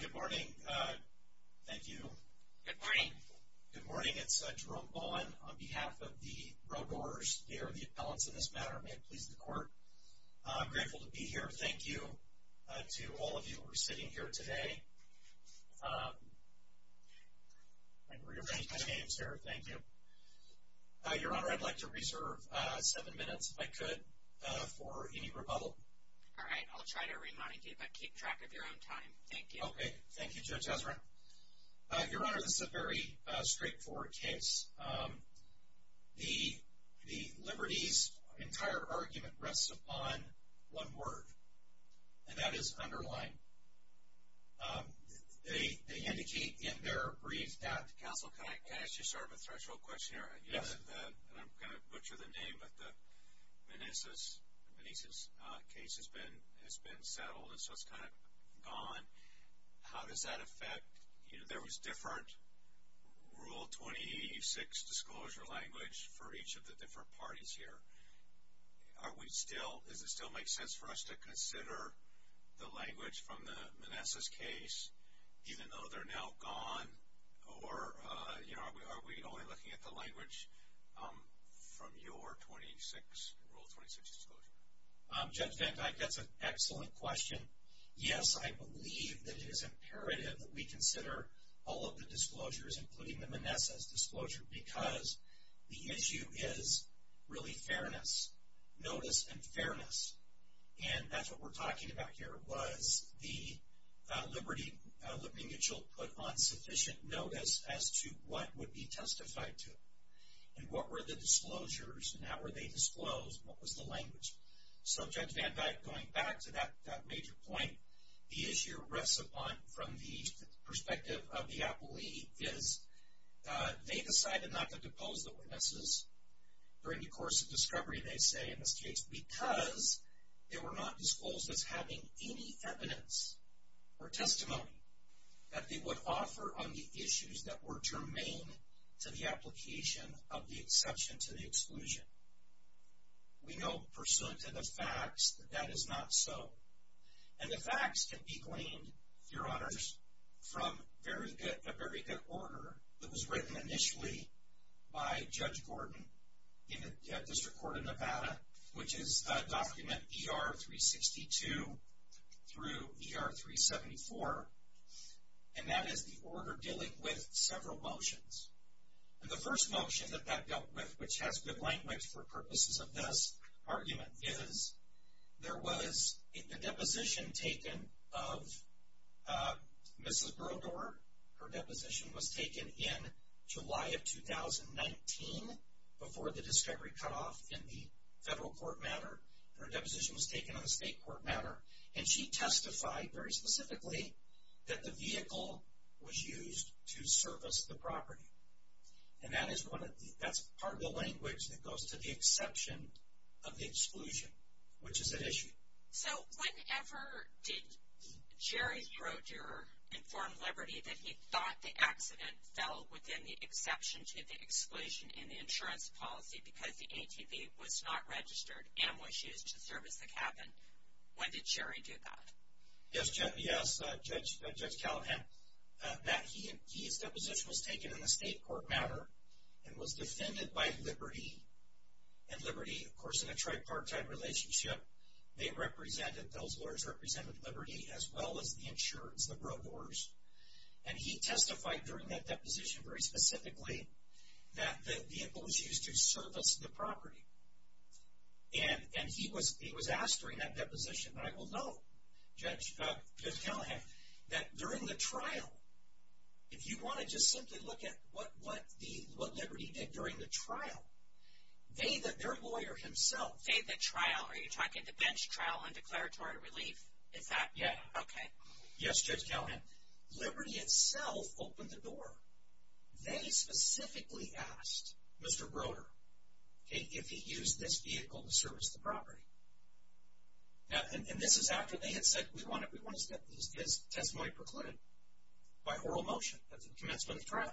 Good morning. Thank you. Good morning. Good morning. It's Jerome Bowen on behalf of the Brodeurs. They are the appellants in this matter. May it please the court. I'm grateful to be here. Thank you to all of you who are sitting here today. Your Honor, I'd like to reserve seven minutes, if I could, for any rebuttal. All right. I'll try to remind you, but keep track of your own time. Thank you. Okay. Thank you, Judge Ezrin. Your Honor, this is a very straightforward case. The Liberty's entire argument rests upon one word, and that is underlying. They indicate in their brief that... Counsel, can I ask you sort of a threshold question here? Yes. And I'm going to butcher the name, but the Manessas case has been settled, and so it's kind of gone. How does that affect... You know, there was different Rule 2086 disclosure language for each of the different parties here. Are we still... Does it still make sense for us to consider the language from the Manessas case, even though they're now gone? Or, you know, are we only looking at the language from your Rule 2086 disclosure? Judge Van Dyke, that's an excellent question. Yes, I believe that it is imperative that we consider all of the disclosures, including the Manessas disclosure, because the issue is really fairness. Notice and fairness. And that's what we're talking about here, was the Liberty putting on sufficient notice as to what would be testified to, and what were the disclosures, and how were they disclosed, and what was the language. So, Judge Van Dyke, going back to that major point, the issue rests upon, from the perspective of the appellee, is they decided not to depose the witnesses during the course of discovery, they say, in this case, because they were not disclosed as having any evidence or testimony that they would offer on the issues that were germane to the application of the exception to the exclusion. We know, pursuant to the facts, that that is not so. And the facts can be claimed, Your Honors, from a very good order that was written initially by Judge Gordon in the District Court of Nevada, which is document ER-362 through ER-374, and that is the order dealing with several motions. And the first motion that that dealt with, which has good language for purposes of this argument, is there was the deposition taken of Mrs. Brodeur. Her deposition was taken in July of 2019, before the discovery cut off in the federal court matter, and her deposition was taken in the state court matter. And she testified, very specifically, that the vehicle was used to service the property. And that is one of the, that's part of the language that goes to the exception of the exclusion, which is at issue. So, whenever did Jerry Brodeur inform Liberty that he thought the accident fell within the exception to the exclusion in the insurance policy because the ATV was not registered and was used to service the cabin? When did Jerry do that? Yes, Judge Callahan, that he, his deposition was taken in the state court matter and was and Liberty, of course, in a tripartite relationship, they represented, those lawyers represented Liberty as well as the insurance, the Brodeurs. And he testified during that deposition, very specifically, that the vehicle was used to service the property. And he was asked during that deposition, and I will note, Judge Callahan, that during the trial, if you want to just say during the trial, they, their lawyer himself. They, the trial, are you talking the bench trial and declaratory relief? Is that? Yeah. Okay. Yes, Judge Callahan. Liberty itself opened the door. They specifically asked Mr. Brodeur if he used this vehicle to service the property. Now, and this is after they had said, we want to, we want to get this testimony precluded by oral motion at the commencement of trial.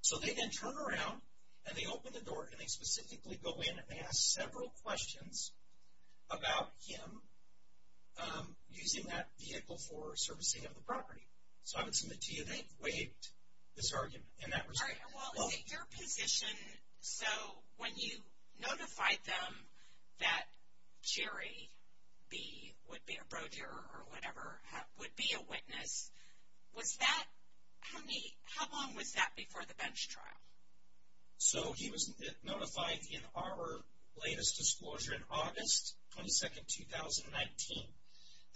So, they then turn around and they open the door and they specifically go in and they ask several questions about him using that vehicle for servicing of the property. So, I would submit to you, they waived this argument in that respect. All right. Well, in your position, so when you notified them that Jerry B. would be a So, he was notified in our latest disclosure in August 22nd, 2019.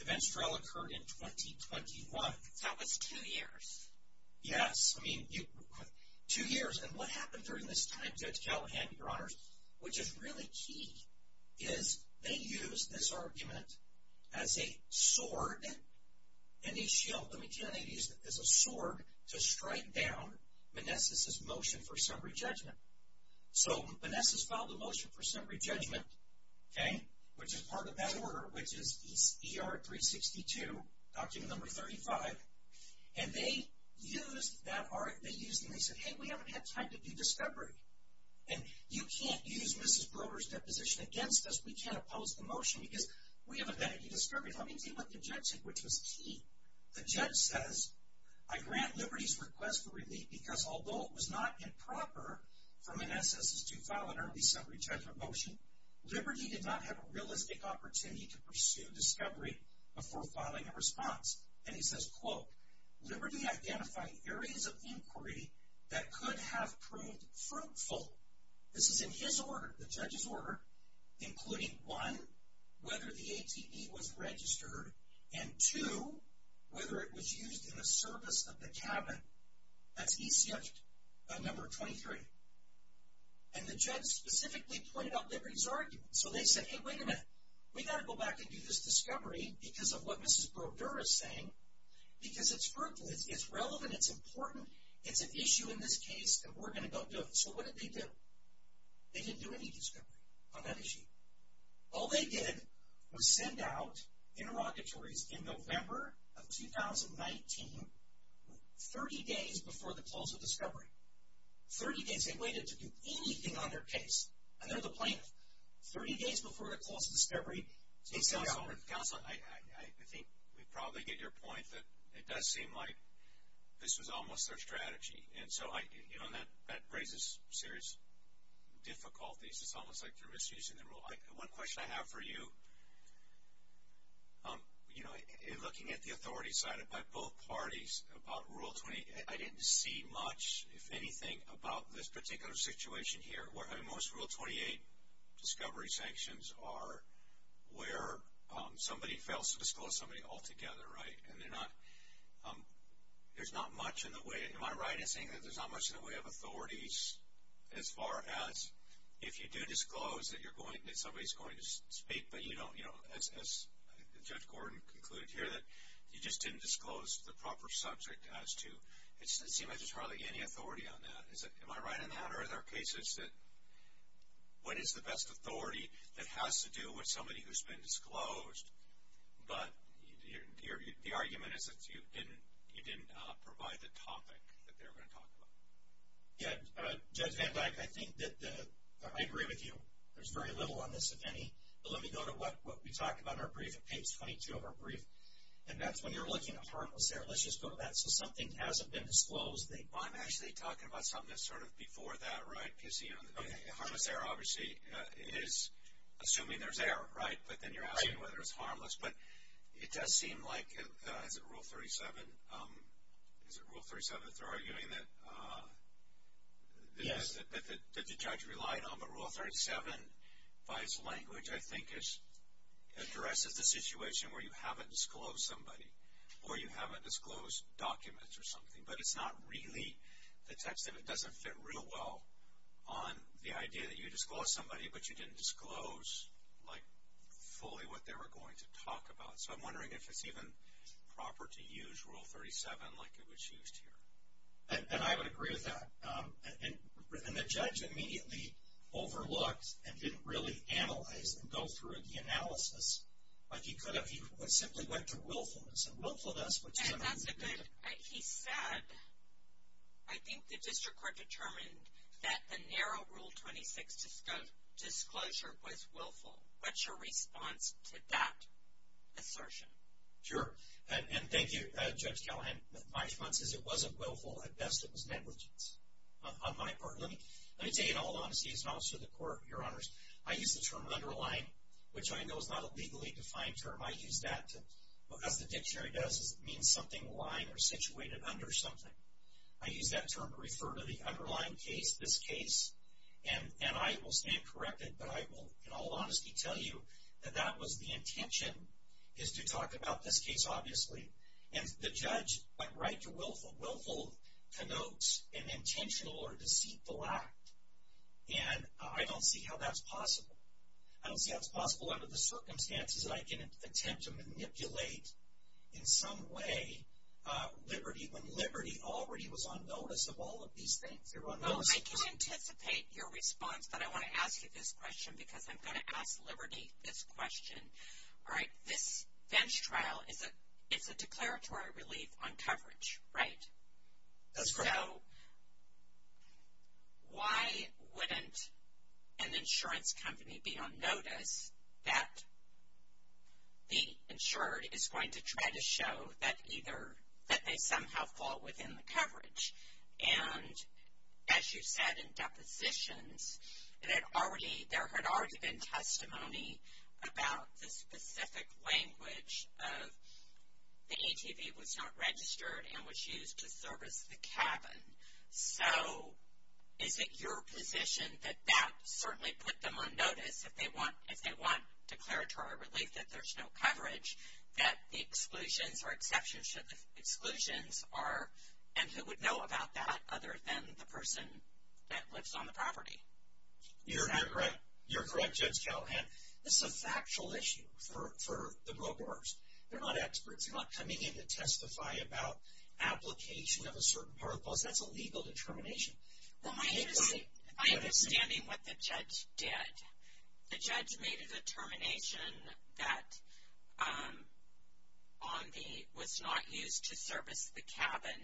The bench trial occurred in 2021. So, that was two years. Yes. I mean, two years. And what happened during this time, Judge Callahan, Your Honor, which is really key, is they used this argument as a sword. And he shield, let me tell you, he used it as a sword to strike down Manessis' motion for summary judgment. So, Manessis filed a motion for summary judgment, okay, which is part of that order, which is ER 362, document number 35. And they used that, they used and they said, hey, we haven't had time to do discovery. And you can't use Mrs. Brodeur's deposition against us. We can't oppose the motion because we haven't had any discovery. Let me tell you what the judge said, which was key. The judge says, I grant Liberty's request for relief because although it was not improper for Manessis to file an early summary judgment motion, Liberty did not have a realistic opportunity to pursue discovery before filing a response. And he says, quote, Liberty identified areas of inquiry that could have proved fruitful. This is in his order, the judge's order, including one, whether the ATB was registered, and two, whether it was used in the service of the cabin. That's ECF number 23. And the judge specifically pointed out Liberty's argument. So, they said, hey, wait a minute, we've got to go back and do this discovery because of what Mrs. Brodeur is saying, because it's fruitful, it's relevant, it's important, it's an issue in this case, and we're going to go do it. So, what did they do? They didn't do any discovery on that issue. All they did was send out interrogatories in November of 2019, 30 days before the close of discovery. 30 days. They waited to do anything on their case. And they're the plaintiff. 30 days before the close of discovery, they sent them. Counselor, I think we probably get your point that it does seem like this was almost their misuse of the rule. One question I have for you, you know, looking at the authority cited by both parties about Rule 28, I didn't see much, if anything, about this particular situation here. Most Rule 28 discovery sanctions are where somebody fails to disclose somebody altogether, right? And they're not, there's not much in the way, am I right in saying that there's not much in the way of authorities as far as if you do disclose that you're going, that somebody's going to speak, but you don't, you know, as Judge Gordon concluded here, that you just didn't disclose the proper subject as to, it seems like there's hardly any authority on that. Am I right on that? Are there cases that, what is the best authority that has to do with somebody who's been disclosed, but the argument is that you didn't provide the topic that they were going to talk about? Yeah, Judge Van Dyke, I think that the, I agree with you. There's very little on this, if any, but let me go to what we talked about in our brief, in page 22 of our brief, and that's when you're looking at harmless error. Let's just go to that, so something hasn't been disclosed. Well, I'm actually talking about something that's sort of before that, right, PC? Harmless error obviously is assuming there's error, right? But then you're asking whether it's Rule 37, is it Rule 37 if they're arguing that the judge relied on the Rule 37 by its language, I think it addresses the situation where you haven't disclosed somebody, or you haven't disclosed documents or something, but it's not really the text of it. It doesn't fit real well on the idea that you disclosed somebody, but you didn't disclose, like, fully what they were going to talk about. So, I'm wondering if it's even proper to use Rule 37 like it was used here. And I would agree with that. And the judge immediately overlooked and didn't really analyze and go through the analysis like he could have. He simply went to willfulness, and willfulness was something that he did. And that's a good, he said, I think the district court determined that the narrow Rule 26 disclosure was willful. What's your response to that assertion? Sure. And thank you, Judge Callahan. My response is it wasn't willful. At best, it was negligence on my part. Let me say in all honesty as an officer of the court, Your Honors, I use the term underlying, which I know is not a legally defined term. I use that to, as the dictionary does, it means something lying or situated under something. I use that term to refer to the underlying case, this case. And I will stand corrected, but I will in all honesty tell you that that was the intention, is to talk about this case, obviously. And the judge went right to willful. Willful connotes an intentional or deceitful act. And I don't see how that's possible. I don't see how it's possible under the circumstances that I can attempt to manipulate in some way liberty when liberty already was on notice of all of these things. Your Honor. Well, I do anticipate your response, but I want to ask you this question because I'm going to ask liberty this question. All right. This bench trial is a declaratory relief on coverage, right? That's correct. So why wouldn't an insurance company be on notice that the insured is going to try to show that either, that they somehow fall within the coverage? And as you said in depositions, it had already, there had already been testimony about the specific language of the ATV was not registered and was used to service the cabin. So is it your position that that certainly put them on notice if they want, if they want declaratory relief that there's no coverage, that the exclusions or exceptions to the exclusions are, and who would know about that other than the person that lives on the property? You're correct. You're correct, Judge Callahan. This is a factual issue for the brokers. They're not experts. They're not coming in to testify about application of a certain part of the policy. That's a legal determination. Well, my understanding, what the judge did, the judge made a determination that on the, was not used to service the cabin.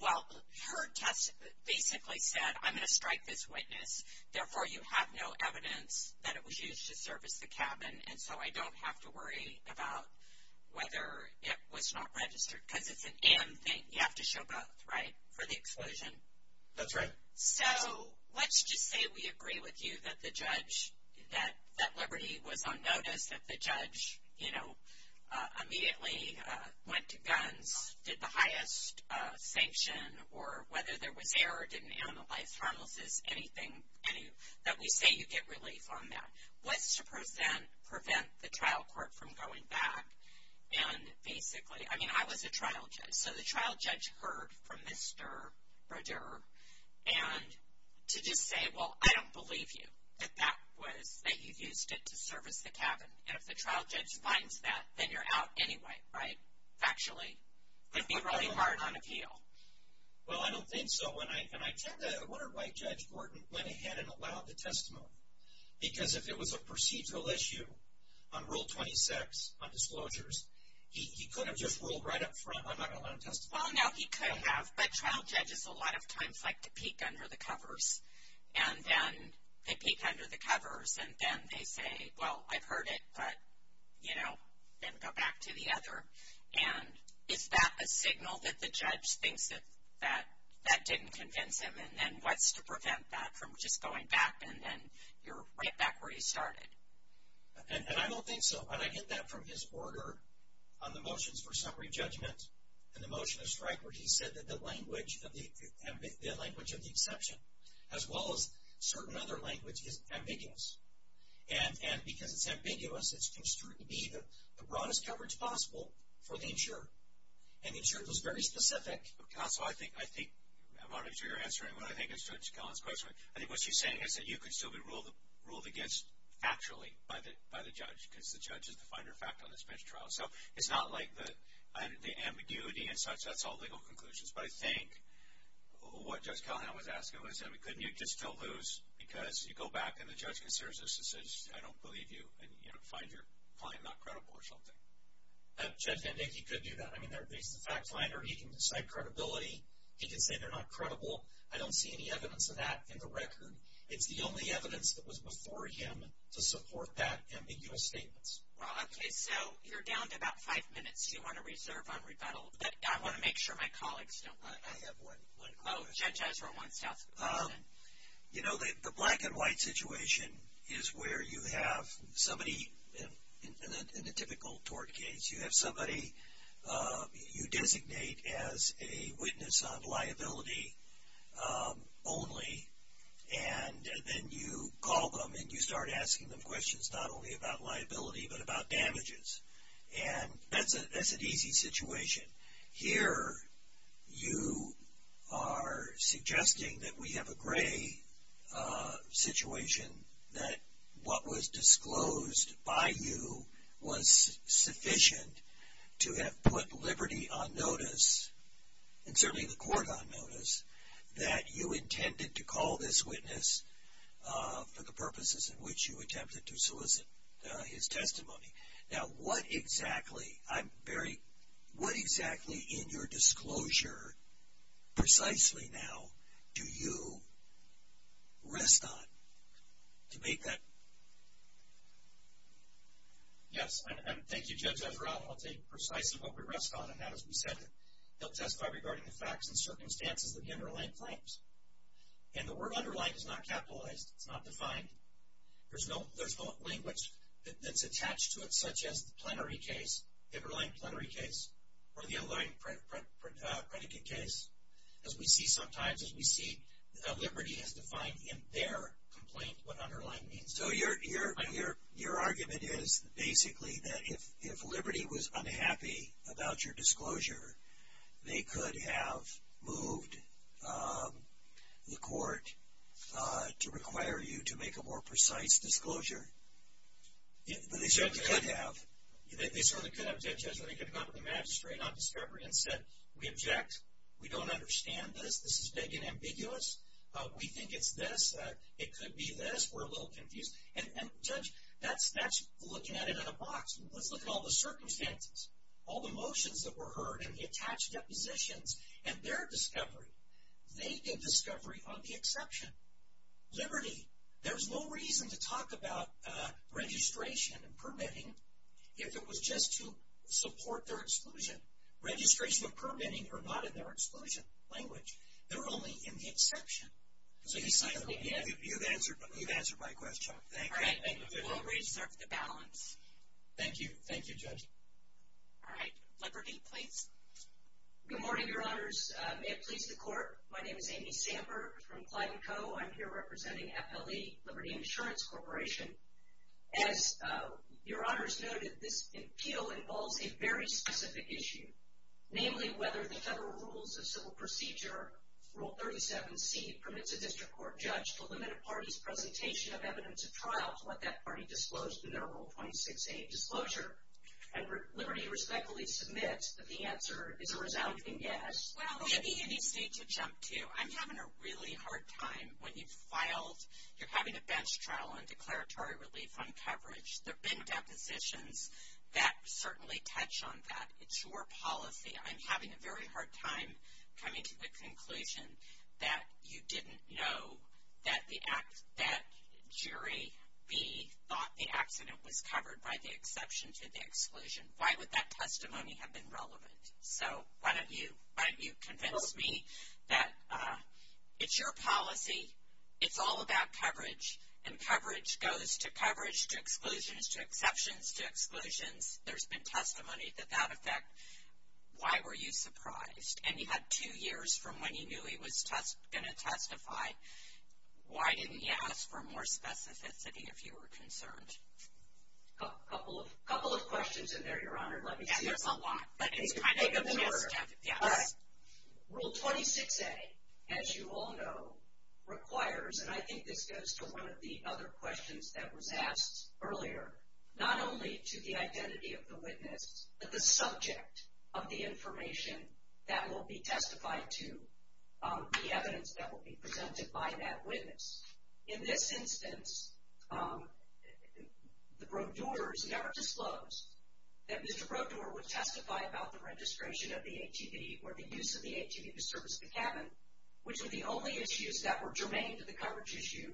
Well, her test basically said, I'm going to strike this witness. Therefore, you have no evidence that it was used to service the cabin. And so I don't have to worry about whether it was not registered. Because it's an am thing. You have to show both, right? For the exclusion. That's right. So let's just say we agree with you that the judge, that Liberty was on notice, that the judge, you know, immediately went to guns, did the highest sanction, or whether there was error, didn't analyze harmlessness, anything, that we say you get relief on that. What's to prevent the trial court from going back and basically, I mean, I was a trial judge. So the trial judge heard from Mr. Brodeur, and to just say, well, I don't believe you that that was, that you used it to service the cabin. And if the trial judge finds that, then you're out anyway, right? Factually. It'd be really hard on appeal. Well, I don't think so. And I tend to, I wonder why Judge Gordon went ahead and allowed the testimony. Because if it was a procedural issue on Rule 26, on disclosures, he could have just ruled right up front, I'm not going to let him testify. Well, no, he could have. But trial judges a lot of times like to peek under the covers. And then they peek under the covers, and then they say, well, I've heard it, but, you know, then go back to the other. And is that a signal that the judge thinks that that didn't convince him? And then what's to prevent that from just going back, and then you're right back where you started? And I don't think so. And I get that from his order on the motions for summary judgment, and the motion of strike, where he said that the language of the exception, as well as certain other language, is ambiguous. And because it's ambiguous, it's construed to be the broadest coverage possible for the insurer. And the insurer was very specific. Counsel, I think, I think, I'm not sure you're answering what I think is Judge Collins' question. I think what she's saying is that you could still be ruled against factually by the judge, because the judge is the finder of fact on this bench trial. So it's not like the ambiguity and such, that's all legal conclusions. But I think what Judge Callahan was asking was, I mean, couldn't you just still lose because you go back and the judge considers this as, I don't believe you, and, you know, find your client not credible or something? Judge VanDink, he could do that. I mean, he's the fact finder. He can cite credibility. He can say they're not credible. I don't see any evidence of that in the record. It's the only evidence that was before him to support that ambiguous statements. Well, okay, so you're down to about five minutes you want to reserve on rebuttal. But I want to make sure my colleagues don't wait. I have one. Oh, Judge Ezra wants to ask a question. You know, the black and white situation is where you have somebody, in the typical tort case, you have somebody you designate as a witness on liability only and then you call them and you start asking them questions not only about liability but about damages. And that's an easy situation. Here you are suggesting that we have a gray situation, that what was to have put liberty on notice, and certainly the court on notice, that you intended to call this witness for the purposes in which you attempted to solicit his testimony. Now, what exactly, I'm very, what exactly in your disclosure, precisely now, do you rest on to make that? Yes, and thank you, Judge Ezra. I'll tell you precisely what we rest on and how, as we said, they'll testify regarding the facts and circumstances of the underlying claims. And the word underlying is not capitalized. It's not defined. There's no language that's attached to it such as the plenary case, the underlying plenary case, or the underlying predicate case. As we see sometimes, as we see, liberty is defined in their complaint what underlying means. So your argument is basically that if liberty was unhappy about your disclosure, they could have moved the court to require you to make a more precise disclosure. They certainly could have. They certainly could have, Judge Ezra. They could have gone to the magistrate on discovery and said, we object. We don't understand this. This is dead and ambiguous. We think it's this. It could be this. We're a little confused. And Judge, that's looking at it in a box. Let's look at all the circumstances, all the motions that were heard and the attached depositions and their discovery. They did discovery on the exception. Liberty, there's no reason to talk about registration and permitting if it was just to support their exclusion. Registration and permitting are not in their exclusion language. They're only in the exception. So you've answered my question. Thank you. All right. We'll reserve the balance. Thank you. Thank you, Judge. All right. Liberty, please. Good morning, Your Honors. May it please the Court. My name is Amy Samper from Clyde & Co. I'm here representing FLE, Liberty Insurance Corporation. As Your Honors noted, this appeal involves a very specific issue, namely whether the Federal Rules of Civil Procedure, Rule 37C, permits a district court judge to limit a party's presentation of evidence at trial to let that party disclose their Rule 26A disclosure. And Liberty respectfully submits that the answer is a resounding yes. Well, it would be interesting to jump to. I'm having a really hard time. When you've filed, you're having a bench trial on declaratory relief on coverage. There have been depositions that certainly touch on that. It's your policy. I'm having a very hard time coming to the conclusion that you didn't know that jury B thought the accident was covered by the exception to the exclusion. Why would that testimony have been relevant? So, why don't you convince me that it's your policy, it's all about coverage, and coverage goes to coverage, to exclusions, to exceptions, to exclusions. There's been testimony to that effect. Why were you surprised? And you had two years from when you knew he was going to testify. Why didn't you ask for more specificity if you were concerned? A couple of questions in there, Your Honor. Let me see. Yeah, there's a lot. But it's kind of a mirror. Yes. Rule 26A, as you all know, requires, and I think this goes to one of the other questions that was asked earlier, not only to the identity of the witness, but the subject of the information that will be testified to, the evidence that will be presented by that witness. In this instance, the Brodeurs never disclosed that Mr. Brodeur would testify about the registration of the ATV or the use of the ATV to service the cabin, which were the only issues that were germane to the coverage issue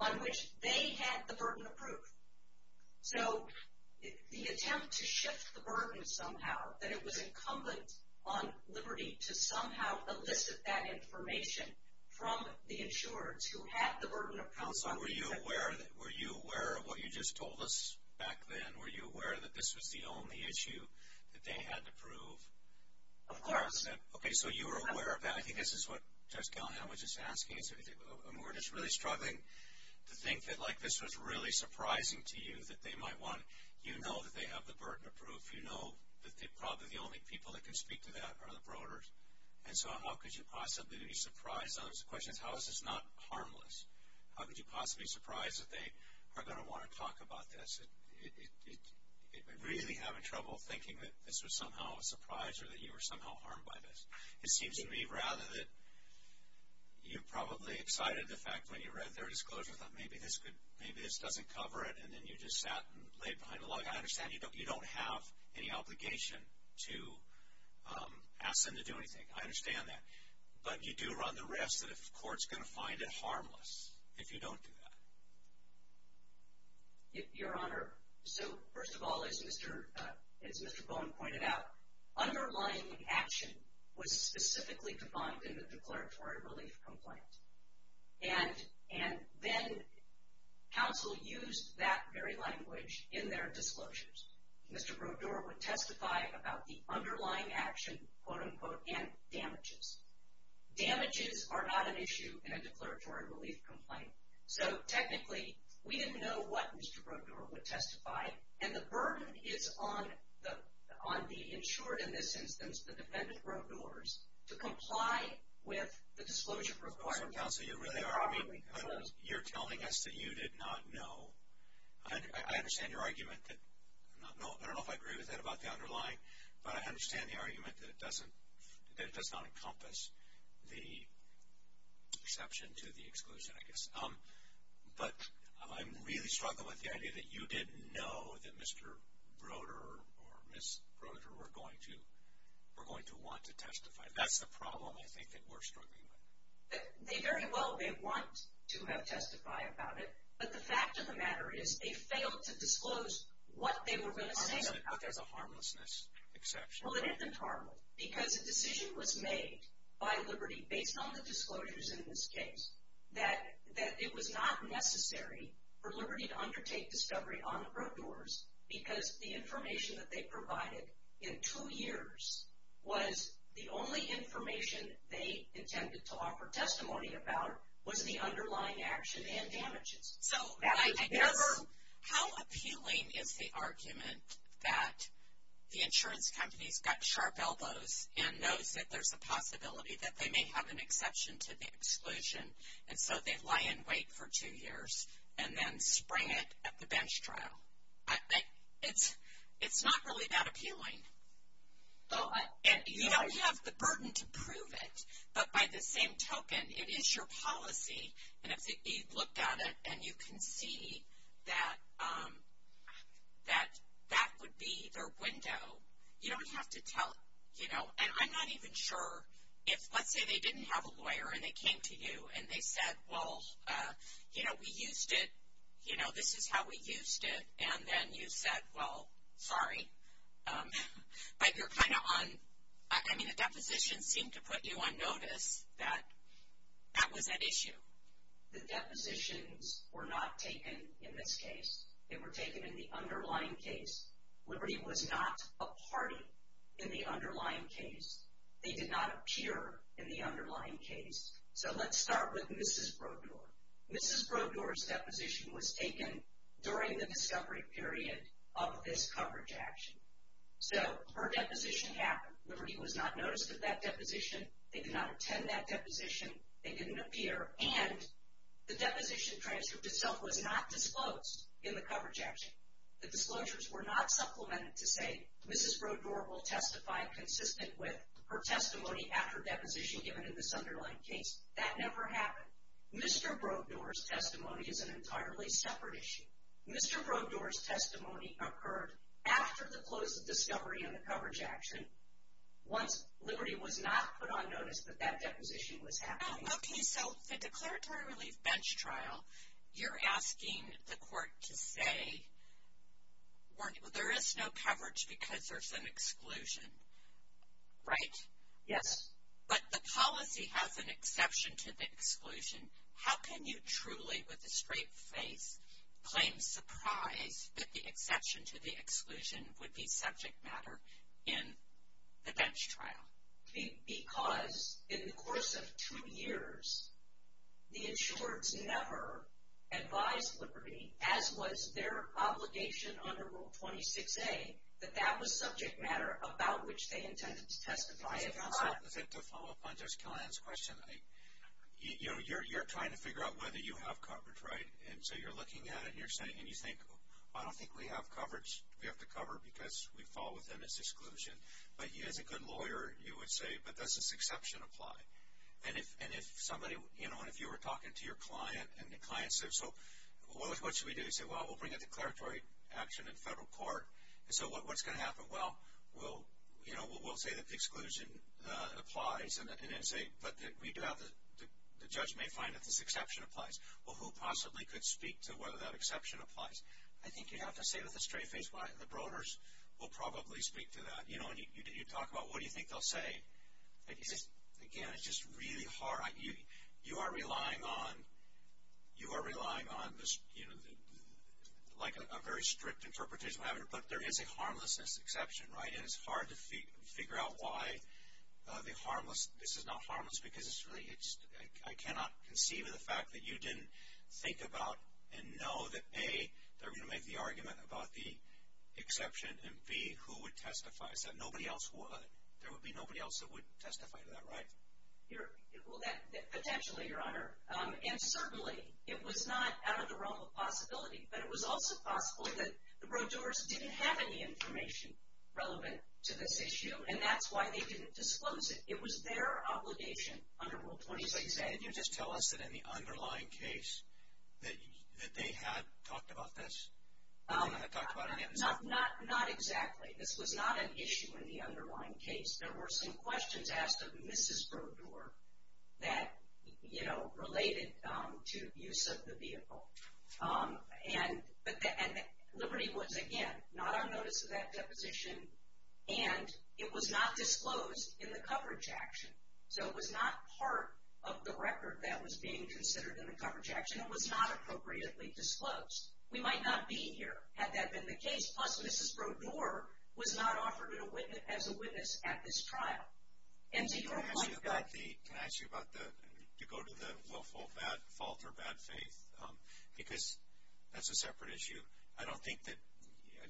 on which they had the burden of proof. So the attempt to shift the burden somehow, that it was incumbent on Liberty to somehow elicit that information from the insurers who had the burden of proof. Counselor, were you aware of what you just told us back then? Were you aware that this was the only issue that they had to prove? Of course. Okay, so you were aware of that. I think this is what Judge Callahan was just asking. We're just really struggling to think that like this was really surprising to you that they might want, you know that they have the burden of proof. You know that probably the only people that can speak to that are the Brodeurs. And so how could you possibly be surprised on those questions? How is this not harmless? How could you possibly be surprised that they are going to want to talk about this? Really having trouble thinking that this was somehow a surprise or that you were somehow harmed by this. It seems to me rather that you're probably excited at the fact when you read their disclosure that maybe this doesn't cover it, and then you just sat and laid behind a log. I understand you don't have any obligation to ask them to do anything. I understand that. But you do run the risk that a court's going to find it harmless if you don't do that. Your Honor, so first of all, as Mr. Bowen pointed out, underlying action was specifically defined in the declaratory relief complaint. And then counsel used that very language in their disclosures. Mr. Brodeur would testify about the underlying action, quote, unquote, and damages. Damages are not an issue in a declaratory relief complaint. So, technically, we didn't know what Mr. Brodeur would testify. And the burden is on the insured, in this instance, the defendant Brodeurs, to comply with the disclosure requirements. So, counsel, you really are telling us that you did not know. I understand your argument. I don't know if I agree with that about the underlying, but I understand the argument that it does not encompass the exception to the exclusion, I guess. But I'm really struggling with the idea that you didn't know that Mr. Brodeur or Ms. Brodeur were going to want to testify. That's the problem, I think, that we're struggling with. They very well may want to testify about it, but the fact of the matter is they failed to disclose what they were going to say. So, there's a harmlessness exception. Well, it isn't harmless, because a decision was made by Liberty, based on the disclosures in this case, that it was not necessary for Liberty to undertake discovery on the Brodeurs, because the information that they provided in two years was the only information they intended to offer testimony about was the underlying action and damages. So, how appealing is the argument that the insurance company's got sharp elbows and knows that there's a possibility that they may have an exception to the exclusion, and so they lie in wait for two years and then spring it at the bench trial? It's not really that appealing. You don't have the burden to prove it, but by the same token, it is your policy, and if you looked at it and you can see that that would be their window, you don't have to tell, you know. And I'm not even sure if, let's say they didn't have a lawyer and they came to you and they said, well, you know, we used it, you know, this is how we used it, and then you said, well, sorry. But you're kind of on, I mean, the deposition seemed to put you on notice that that was at issue. The depositions were not taken in this case. They were taken in the underlying case. Liberty was not a party in the underlying case. They did not appear in the underlying case. So, let's start with Mrs. Brodeur. Mrs. Brodeur's deposition was taken during the discovery period of this coverage action. So, her deposition happened. Liberty was not noticed at that deposition. They did not attend that deposition. They didn't appear, and the deposition transcript itself was not disclosed in the coverage action. The disclosures were not supplemented to say Mrs. Brodeur will testify consistent with her testimony after deposition given in this underlying case. That never happened. Mr. Brodeur's testimony is an entirely separate issue. Mr. Brodeur's testimony occurred after the close of discovery in the coverage action, once Liberty was not put on notice that that deposition was happening. Okay, so the declaratory relief bench trial, you're asking the court to say there is no coverage because there's an exclusion, right? Yes. But the policy has an exception to the exclusion. How can you truly, with a straight face, claim surprise that the exception to the exclusion would be subject matter in the bench trial? Because in the course of two years, the insureds never advised Liberty, as was their obligation under Rule 26A, that that was subject matter about which they intended to testify. To follow up on Jess Killian's question, you're trying to figure out whether you have coverage, right? And so you're looking at it and you're saying, and you think, I don't think we have coverage. We have to cover because we fall within this exclusion. But as a good lawyer, you would say, but does this exception apply? And if somebody, you know, and if you were talking to your client and the client says, so what should we do? You say, well, we'll bring a declaratory action in federal court. So what's going to happen? Well, we'll, you know, we'll say that the exclusion applies and then say, but the judge may find that this exception applies. Well, who possibly could speak to whether that exception applies? I think you'd have to say with a straight face why the Broders will probably speak to that. You know, and you talk about what do you think they'll say. Again, it's just really hard. You are relying on this, you know, like a very strict interpretation, but there is a harmlessness exception, right? And it's hard to figure out why the harmless, this is not harmless because it's really, I cannot conceive of the fact that you didn't think about and know that, A, they're going to make the argument about the exception and, B, who would testify? Is that nobody else would? There would be nobody else that would testify to that, right? Well, potentially, Your Honor. And certainly it was not out of the realm of possibility, but it was also possible that the Broders didn't have any information relevant to this issue, and that's why they didn't disclose it. It was their obligation under Rule 26A. So can you just tell us that in the underlying case that they had talked about this? Were they going to talk about it again? Not exactly. This was not an issue in the underlying case. There were some questions asked of Mrs. Broder that, you know, related to use of the vehicle. And Liberty was, again, not on notice of that deposition, and it was not disclosed in the coverage action. So it was not part of the record that was being considered in the coverage action. It was not appropriately disclosed. We might not be here had that been the case. Plus, Mrs. Broder was not offered as a witness at this trial. And to your point, God. Can I ask you about the go to the willful fault or bad faith? Because that's a separate issue. I don't think that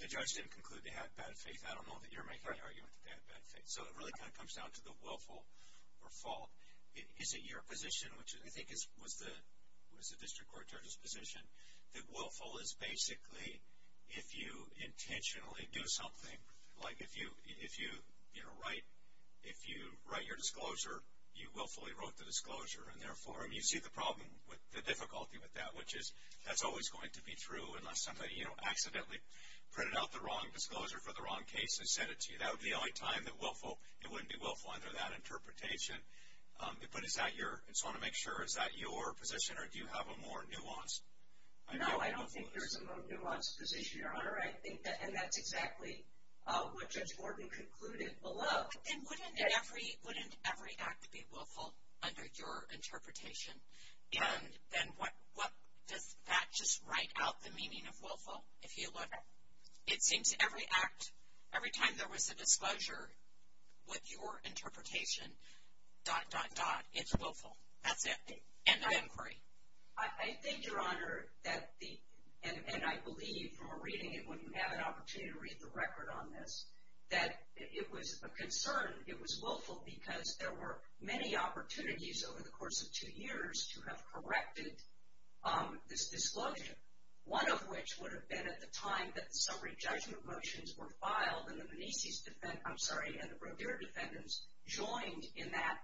the judge didn't conclude they had bad faith. I don't know that you're making the argument that they had bad faith. So it really kind of comes down to the willful or fault. That willful is basically if you intentionally do something. Like if you, you know, write your disclosure, you willfully wrote the disclosure. And therefore, I mean, you see the problem with the difficulty with that, which is that's always going to be true unless somebody, you know, accidentally printed out the wrong disclosure for the wrong case and sent it to you. That would be the only time that willful, it wouldn't be willful under that interpretation. But is that your, I just want to make sure, is that your position or do you have a more nuanced? No, I don't think there's a more nuanced position, Your Honor. And that's exactly what Judge Gordon concluded below. Then wouldn't every act be willful under your interpretation? And then what does that just write out the meaning of willful if you look? It seems every act, every time there was a disclosure with your interpretation, dot, dot, dot, it's willful. That's it. End of inquiry. I think, Your Honor, that the, and I believe from a reading, and when you have an opportunity to read the record on this, that it was a concern. It was willful because there were many opportunities over the course of two years to have corrected this disclosure. One of which would have been at the time that the summary judgment motions were filed and the Menezes defendants, I'm sorry, and the Brodeur defendants joined in that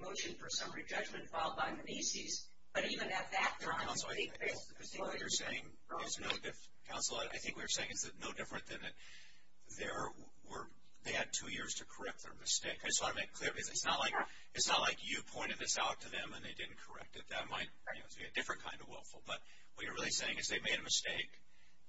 motion for summary judgment filed by Menezes. But even at that time, they failed to disclose. Counsel, I think what you're saying is no different than that they had two years to correct their mistake. I just want to make clear because it's not like you pointed this out to them and they didn't correct it. That might be a different kind of willful. But what you're really saying is they made a mistake.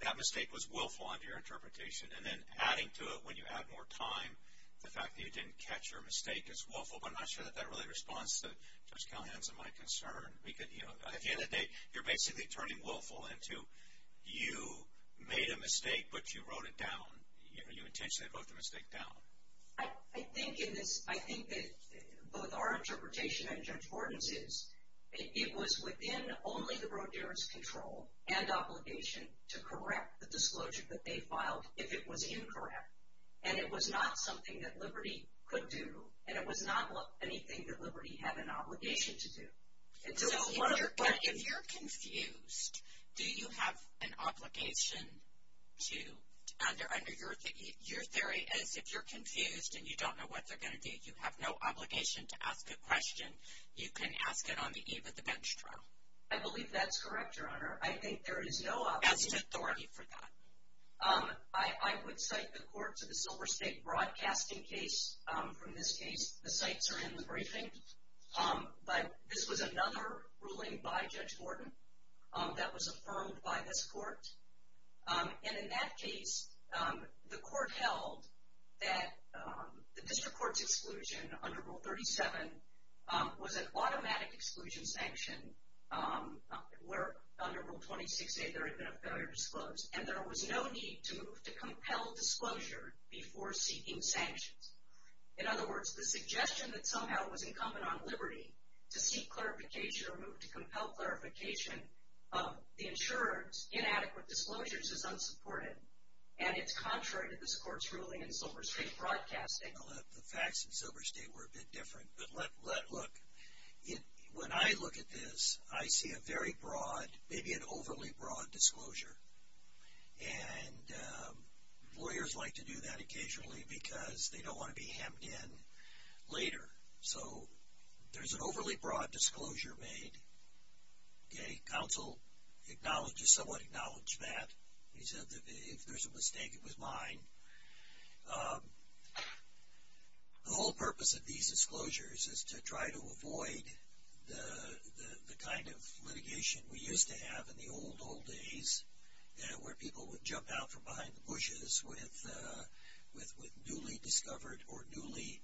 That mistake was willful under your interpretation. And then adding to it when you had more time, the fact that you didn't catch your mistake is willful. But I'm not sure that that really responds to Judge Callahan's and my concern. At the end of the day, you're basically turning willful into you made a mistake, but you wrote it down. You intentionally wrote the mistake down. I think that both our interpretation and Judge Gordon's is it was within only the Brodeur's control and obligation to correct the disclosure that they filed if it was incorrect. And it was not something that Liberty could do, and it was not anything that Liberty had an obligation to do. But if you're confused, do you have an obligation to, under your theory is if you're confused and you don't know what they're going to do, you have no obligation to ask a question. You can ask it on the eve of the bench trial. I believe that's correct, Your Honor. I think there is no obligation. That's the authority for that. I would cite the court to the Silver State broadcasting case from this case. The sites are in the briefing. But this was another ruling by Judge Gordon that was affirmed by this court. And in that case, the court held that the district court's exclusion under Rule 37 was an automatic exclusion sanction where under Rule 26a there had been a failure to disclose, and there was no need to move to compel disclosure before seeking sanctions. In other words, the suggestion that somehow it was incumbent on Liberty to seek clarification or move to compel clarification of the insurer's inadequate disclosures is unsupported. And it's contrary to this court's ruling in Silver State broadcasting. The facts in Silver State were a bit different. But look, when I look at this, I see a very broad, maybe an overly broad disclosure. And lawyers like to do that occasionally because they don't want to be hemmed in later. So there's an overly broad disclosure made. Okay? Counsel just somewhat acknowledged that. He said if there's a mistake, it was mine. The whole purpose of these disclosures is to try to avoid the kind of litigation we used to have in the old, old days where people would jump out from behind the bushes with newly discovered or newly,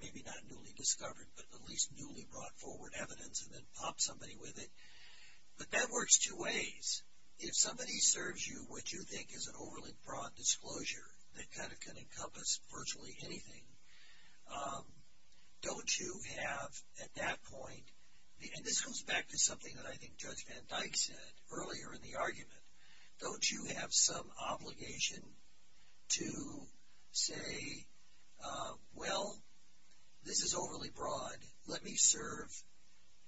maybe not newly discovered, but at least newly brought forward evidence and then pop somebody with it. But that works two ways. If somebody serves you what you think is an overly broad disclosure that kind of can encompass virtually anything, don't you have at that point, and this goes back to something that I think Judge Van Dyke said earlier in the argument, don't you have some obligation to say, well, this is overly broad. Let me serve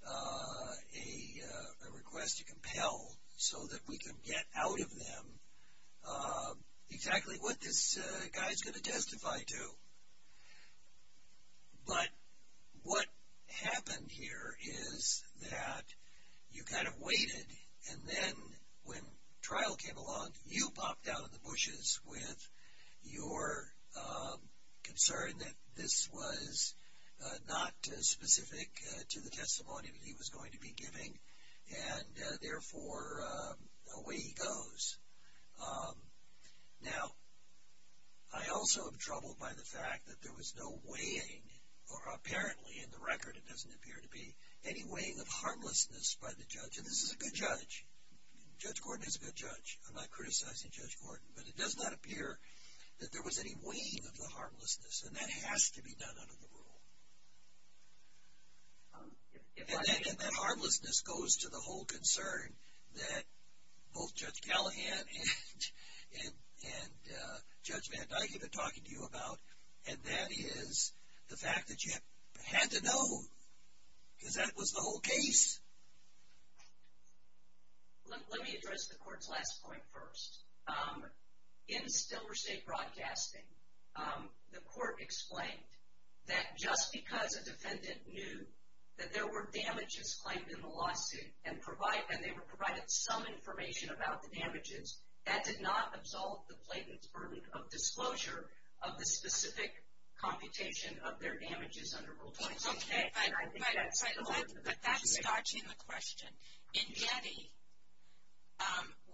a request to compel so that we can get out of them exactly what this guy is going to testify to. But what happened here is that you kind of waited, and then when trial came along, you popped out of the bushes with your concern that this was not specific to the testimony he was going to be giving, and therefore away he goes. Now, I also am troubled by the fact that there was no weighing, or apparently in the record it doesn't appear to be, any weighing of harmlessness by the judge. And this is a good judge. Judge Gordon is a good judge. I'm not criticizing Judge Gordon, but it does not appear that there was any weighing of the harmlessness, and that has to be done under the rule. And that harmlessness goes to the whole concern that both Judge Callahan and Judge Van Dyke have been talking to you about, and that is the fact that you had to know because that was the whole case. Let me address the Court's last point first. In Stiller State Broadcasting, the Court explained that just because a defendant knew that there were damages claimed in the lawsuit and they were provided some information about the damages, that did not absolve the plaintiff's burden of disclosure of the specific computation of their damages under Rule 20. Okay, but that's dodging the question. In Yeti,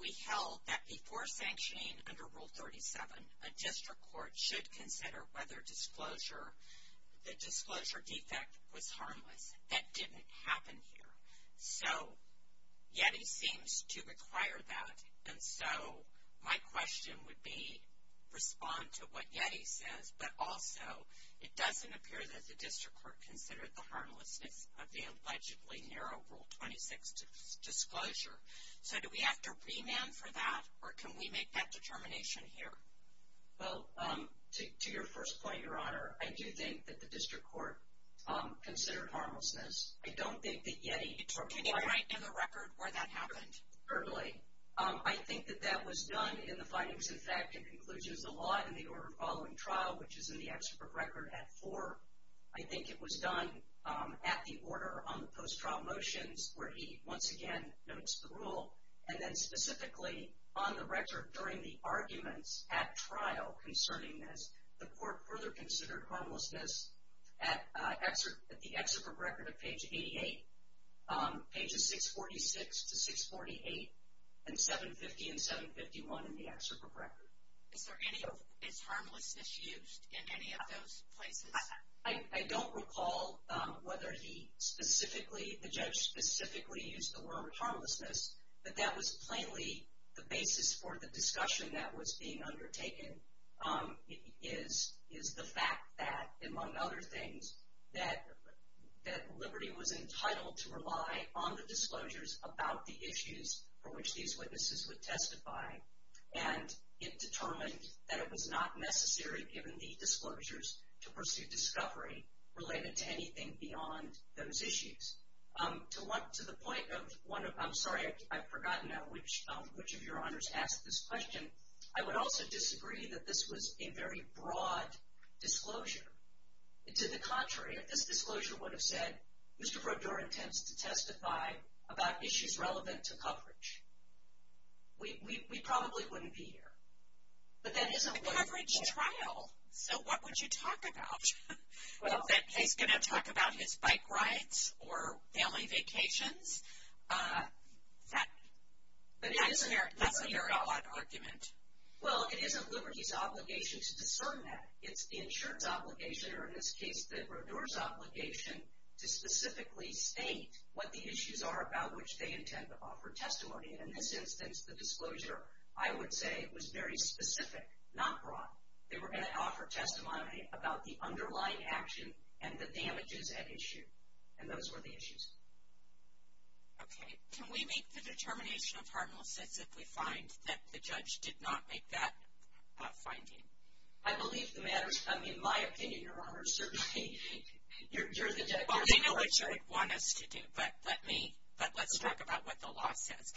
we held that before sanctioning under Rule 37, a district court should consider whether the disclosure defect was harmless. That didn't happen here. So, Yeti seems to require that, and so my question would be, respond to what Yeti says. But also, it doesn't appear that the district court considered the harmlessness of the allegedly narrow Rule 26 disclosure. So, do we have to remand for that, or can we make that determination here? Well, to your first point, Your Honor, I do think that the district court considered harmlessness. I don't think that Yeti determined harmlessness. Can you write down the record where that happened? Certainly. Okay. I think that that was done in the findings in fact and conclusions of the law in the order following trial, which is in the excerpt of record at 4. I think it was done at the order on the post-trial motions where he once again notes the rule, and then specifically on the record during the arguments at trial concerning this, the court further considered harmlessness at the excerpt of record at page 88. Pages 646 to 648 and 750 and 751 in the excerpt of record. Is there any of this harmlessness used in any of those places? I don't recall whether he specifically, the judge specifically used the word harmlessness, but that was plainly the basis for the discussion that was being undertaken, is the fact that, among other things, that Liberty was entitled to rely on the disclosures about the issues for which these witnesses would testify, and it determined that it was not necessary, given the disclosures, to pursue discovery related to anything beyond those issues. To the point of one of, I'm sorry, I've forgotten now which of your honors asked this question, I would also disagree that this was a very broad disclosure. To the contrary, if this disclosure would have said, Mr. Brodeur intends to testify about issues relevant to coverage, we probably wouldn't be here. But that isn't what it is. A coverage trial, so what would you talk about? That he's going to talk about his bike rides or family vacations? That's a very odd argument. Well, it isn't Liberty's obligation to discern that. It's the insurance obligation, or in this case the Brodeur's obligation, to specifically state what the issues are about which they intend to offer testimony. In this instance, the disclosure, I would say, was very specific, not broad. They were going to offer testimony about the underlying action and the damages at issue, and those were the issues. Okay. Can we make the determination of harmlessness if we find that the judge did not make that finding? I believe the matter is, I mean, my opinion, Your Honors, certainly. You're the judge. Well, I know what you would want us to do, but let's talk about what the law says.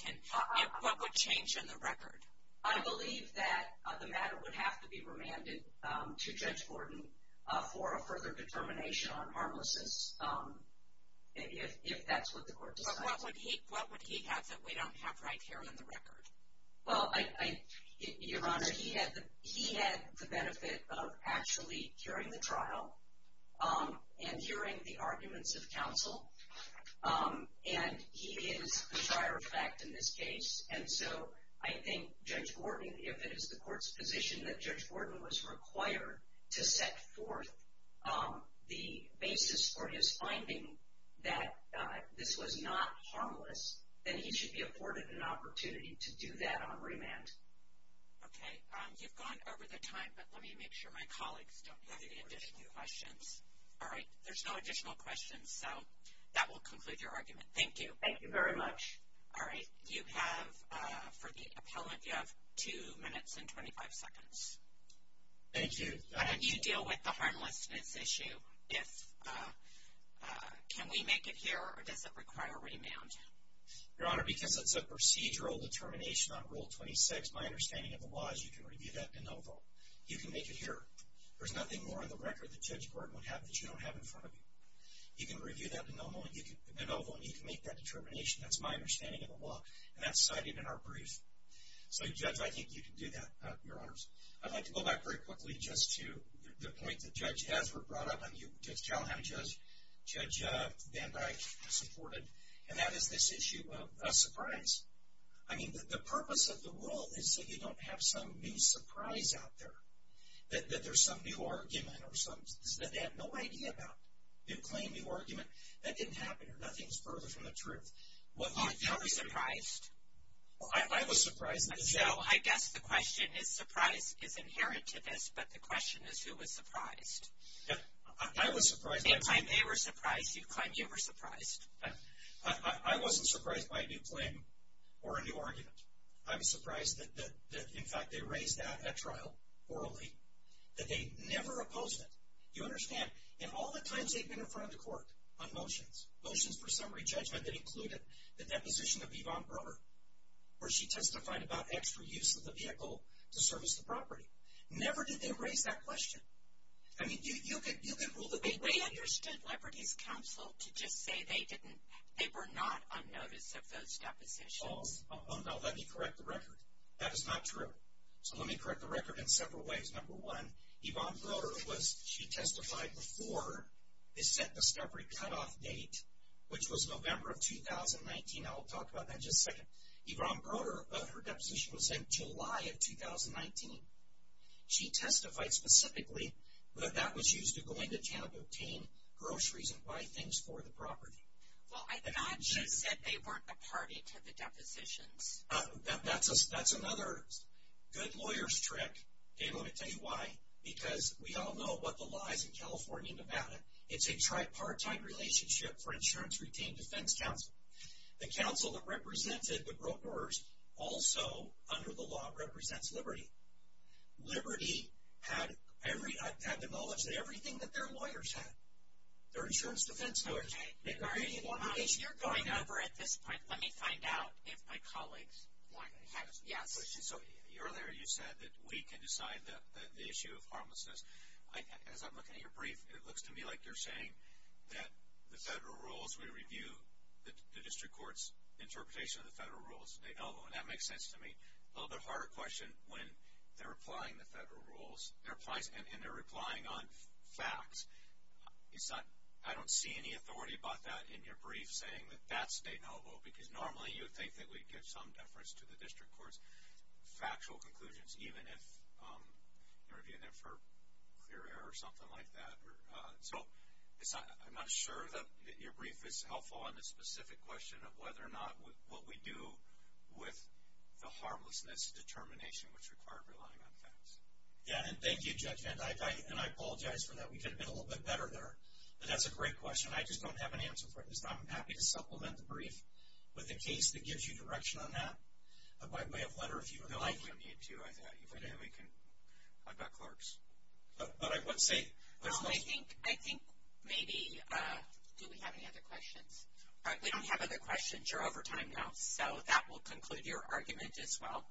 What would change in the record? I believe that the matter would have to be remanded to Judge Gordon for a further determination on harmlessness, if that's what the court decides. But what would he have that we don't have right here in the record? Well, Your Honor, he had the benefit of actually hearing the trial and hearing the arguments of counsel, and he is a prior effect in this case. And so I think Judge Gordon, if it is the court's position that Judge Gordon was required to set forth the basis for his finding that this was not harmless, then he should be afforded an opportunity to do that on remand. Okay. You've gone over the time, but let me make sure my colleagues don't have any additional questions. All right. There's no additional questions, so that will conclude your argument. Thank you. Thank you very much. All right. You have, for the appellant, you have 2 minutes and 25 seconds. Thank you. How do you deal with the harmlessness issue? Can we make it here, or does it require remand? Your Honor, because it's a procedural determination on Rule 26, my understanding of the law is you can review that in no vote. You can make it here. There's nothing more on the record that Judge Gordon would have that you don't have in front of you. You can review that in no vote, and you can make that determination. That's my understanding of the law, and that's cited in our brief. So, Judge, I think you can do that, Your Honors. I'd like to go back very quickly just to the point that Judge Haslert brought up and Judge Callahan and Judge Van Dyke supported, and that is this issue of a surprise. I mean, the purpose of the rule is so you don't have some new surprise out there. That there's some new argument or something that they have no idea about. New claim, new argument. That didn't happen here. Nothing's further from the truth. You were surprised? I was surprised. So, I guess the question is surprise is inherent to this, but the question is who was surprised. I was surprised. They claim they were surprised. You claim you were surprised. I wasn't surprised by a new claim or a new argument. I was surprised that, in fact, they raised that at trial orally, that they never opposed it. You understand, in all the times they've been in front of the court on motions, motions for summary judgment that included the deposition of Yvonne Brewer, where she testified about extra use of the vehicle to service the property. Never did they raise that question. I mean, you can rule the way you want. They understood Liberty's counsel to just say they were not on notice of those depositions. Now, let me correct the record. That is not true. So, let me correct the record in several ways. Number one, Yvonne Brewer was, she testified before the scent discovery cutoff date, which was November of 2019. I'll talk about that in just a second. Yvonne Brewer, her deposition was in July of 2019. She testified specifically that that was used to go into town to obtain groceries and buy things for the property. Well, I thought you said they weren't a party to the depositions. That's another good lawyer's trick. Okay, let me tell you why. Because we all know what the law is in California and Nevada. It's a tripartite relationship for insurance retained defense counsel. The counsel that represented the brokers also, under the law, represents Liberty. Liberty had the knowledge that everything that their lawyers had, their insurance defense lawyers had. You're going over at this point. Let me find out if my colleagues have, yes. So, earlier you said that we can decide the issue of harmlessness. As I'm looking at your brief, it looks to me like you're saying that the federal rules, we review the district court's interpretation of the federal rules. That makes sense to me. A little bit harder question when they're applying the federal rules, and they're replying on facts. I don't see any authority about that in your brief, saying that that's de novo, because normally you would think that we'd give some deference to the district court's factual conclusions, even if you're reviewing them for clear error or something like that. So, I'm not sure that your brief is helpful on the specific question of whether or not what we do with the harmlessness determination, which required relying on facts. Yeah, and thank you, Judge. And I apologize for that. We could have been a little bit better there. But that's a great question. I just don't have an answer for it at this time. I'm happy to supplement the brief with a case that gives you direction on that. By way of letter, if you would like. No, I can't need to. If I didn't, we can. I've got clerks. But I would say. Well, I think maybe. Do we have any other questions? All right. We don't have other questions. You're over time now. So, that will conclude your argument as well.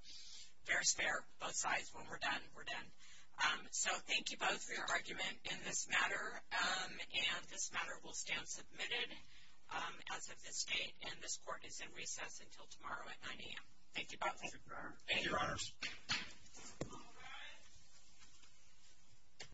Fair is fair, both sides. When we're done, we're done. So, thank you both for your argument in this matter. And this matter will stand submitted as of this date. And this court is in recess until tomorrow at 9 a.m. Thank you, Your Honors.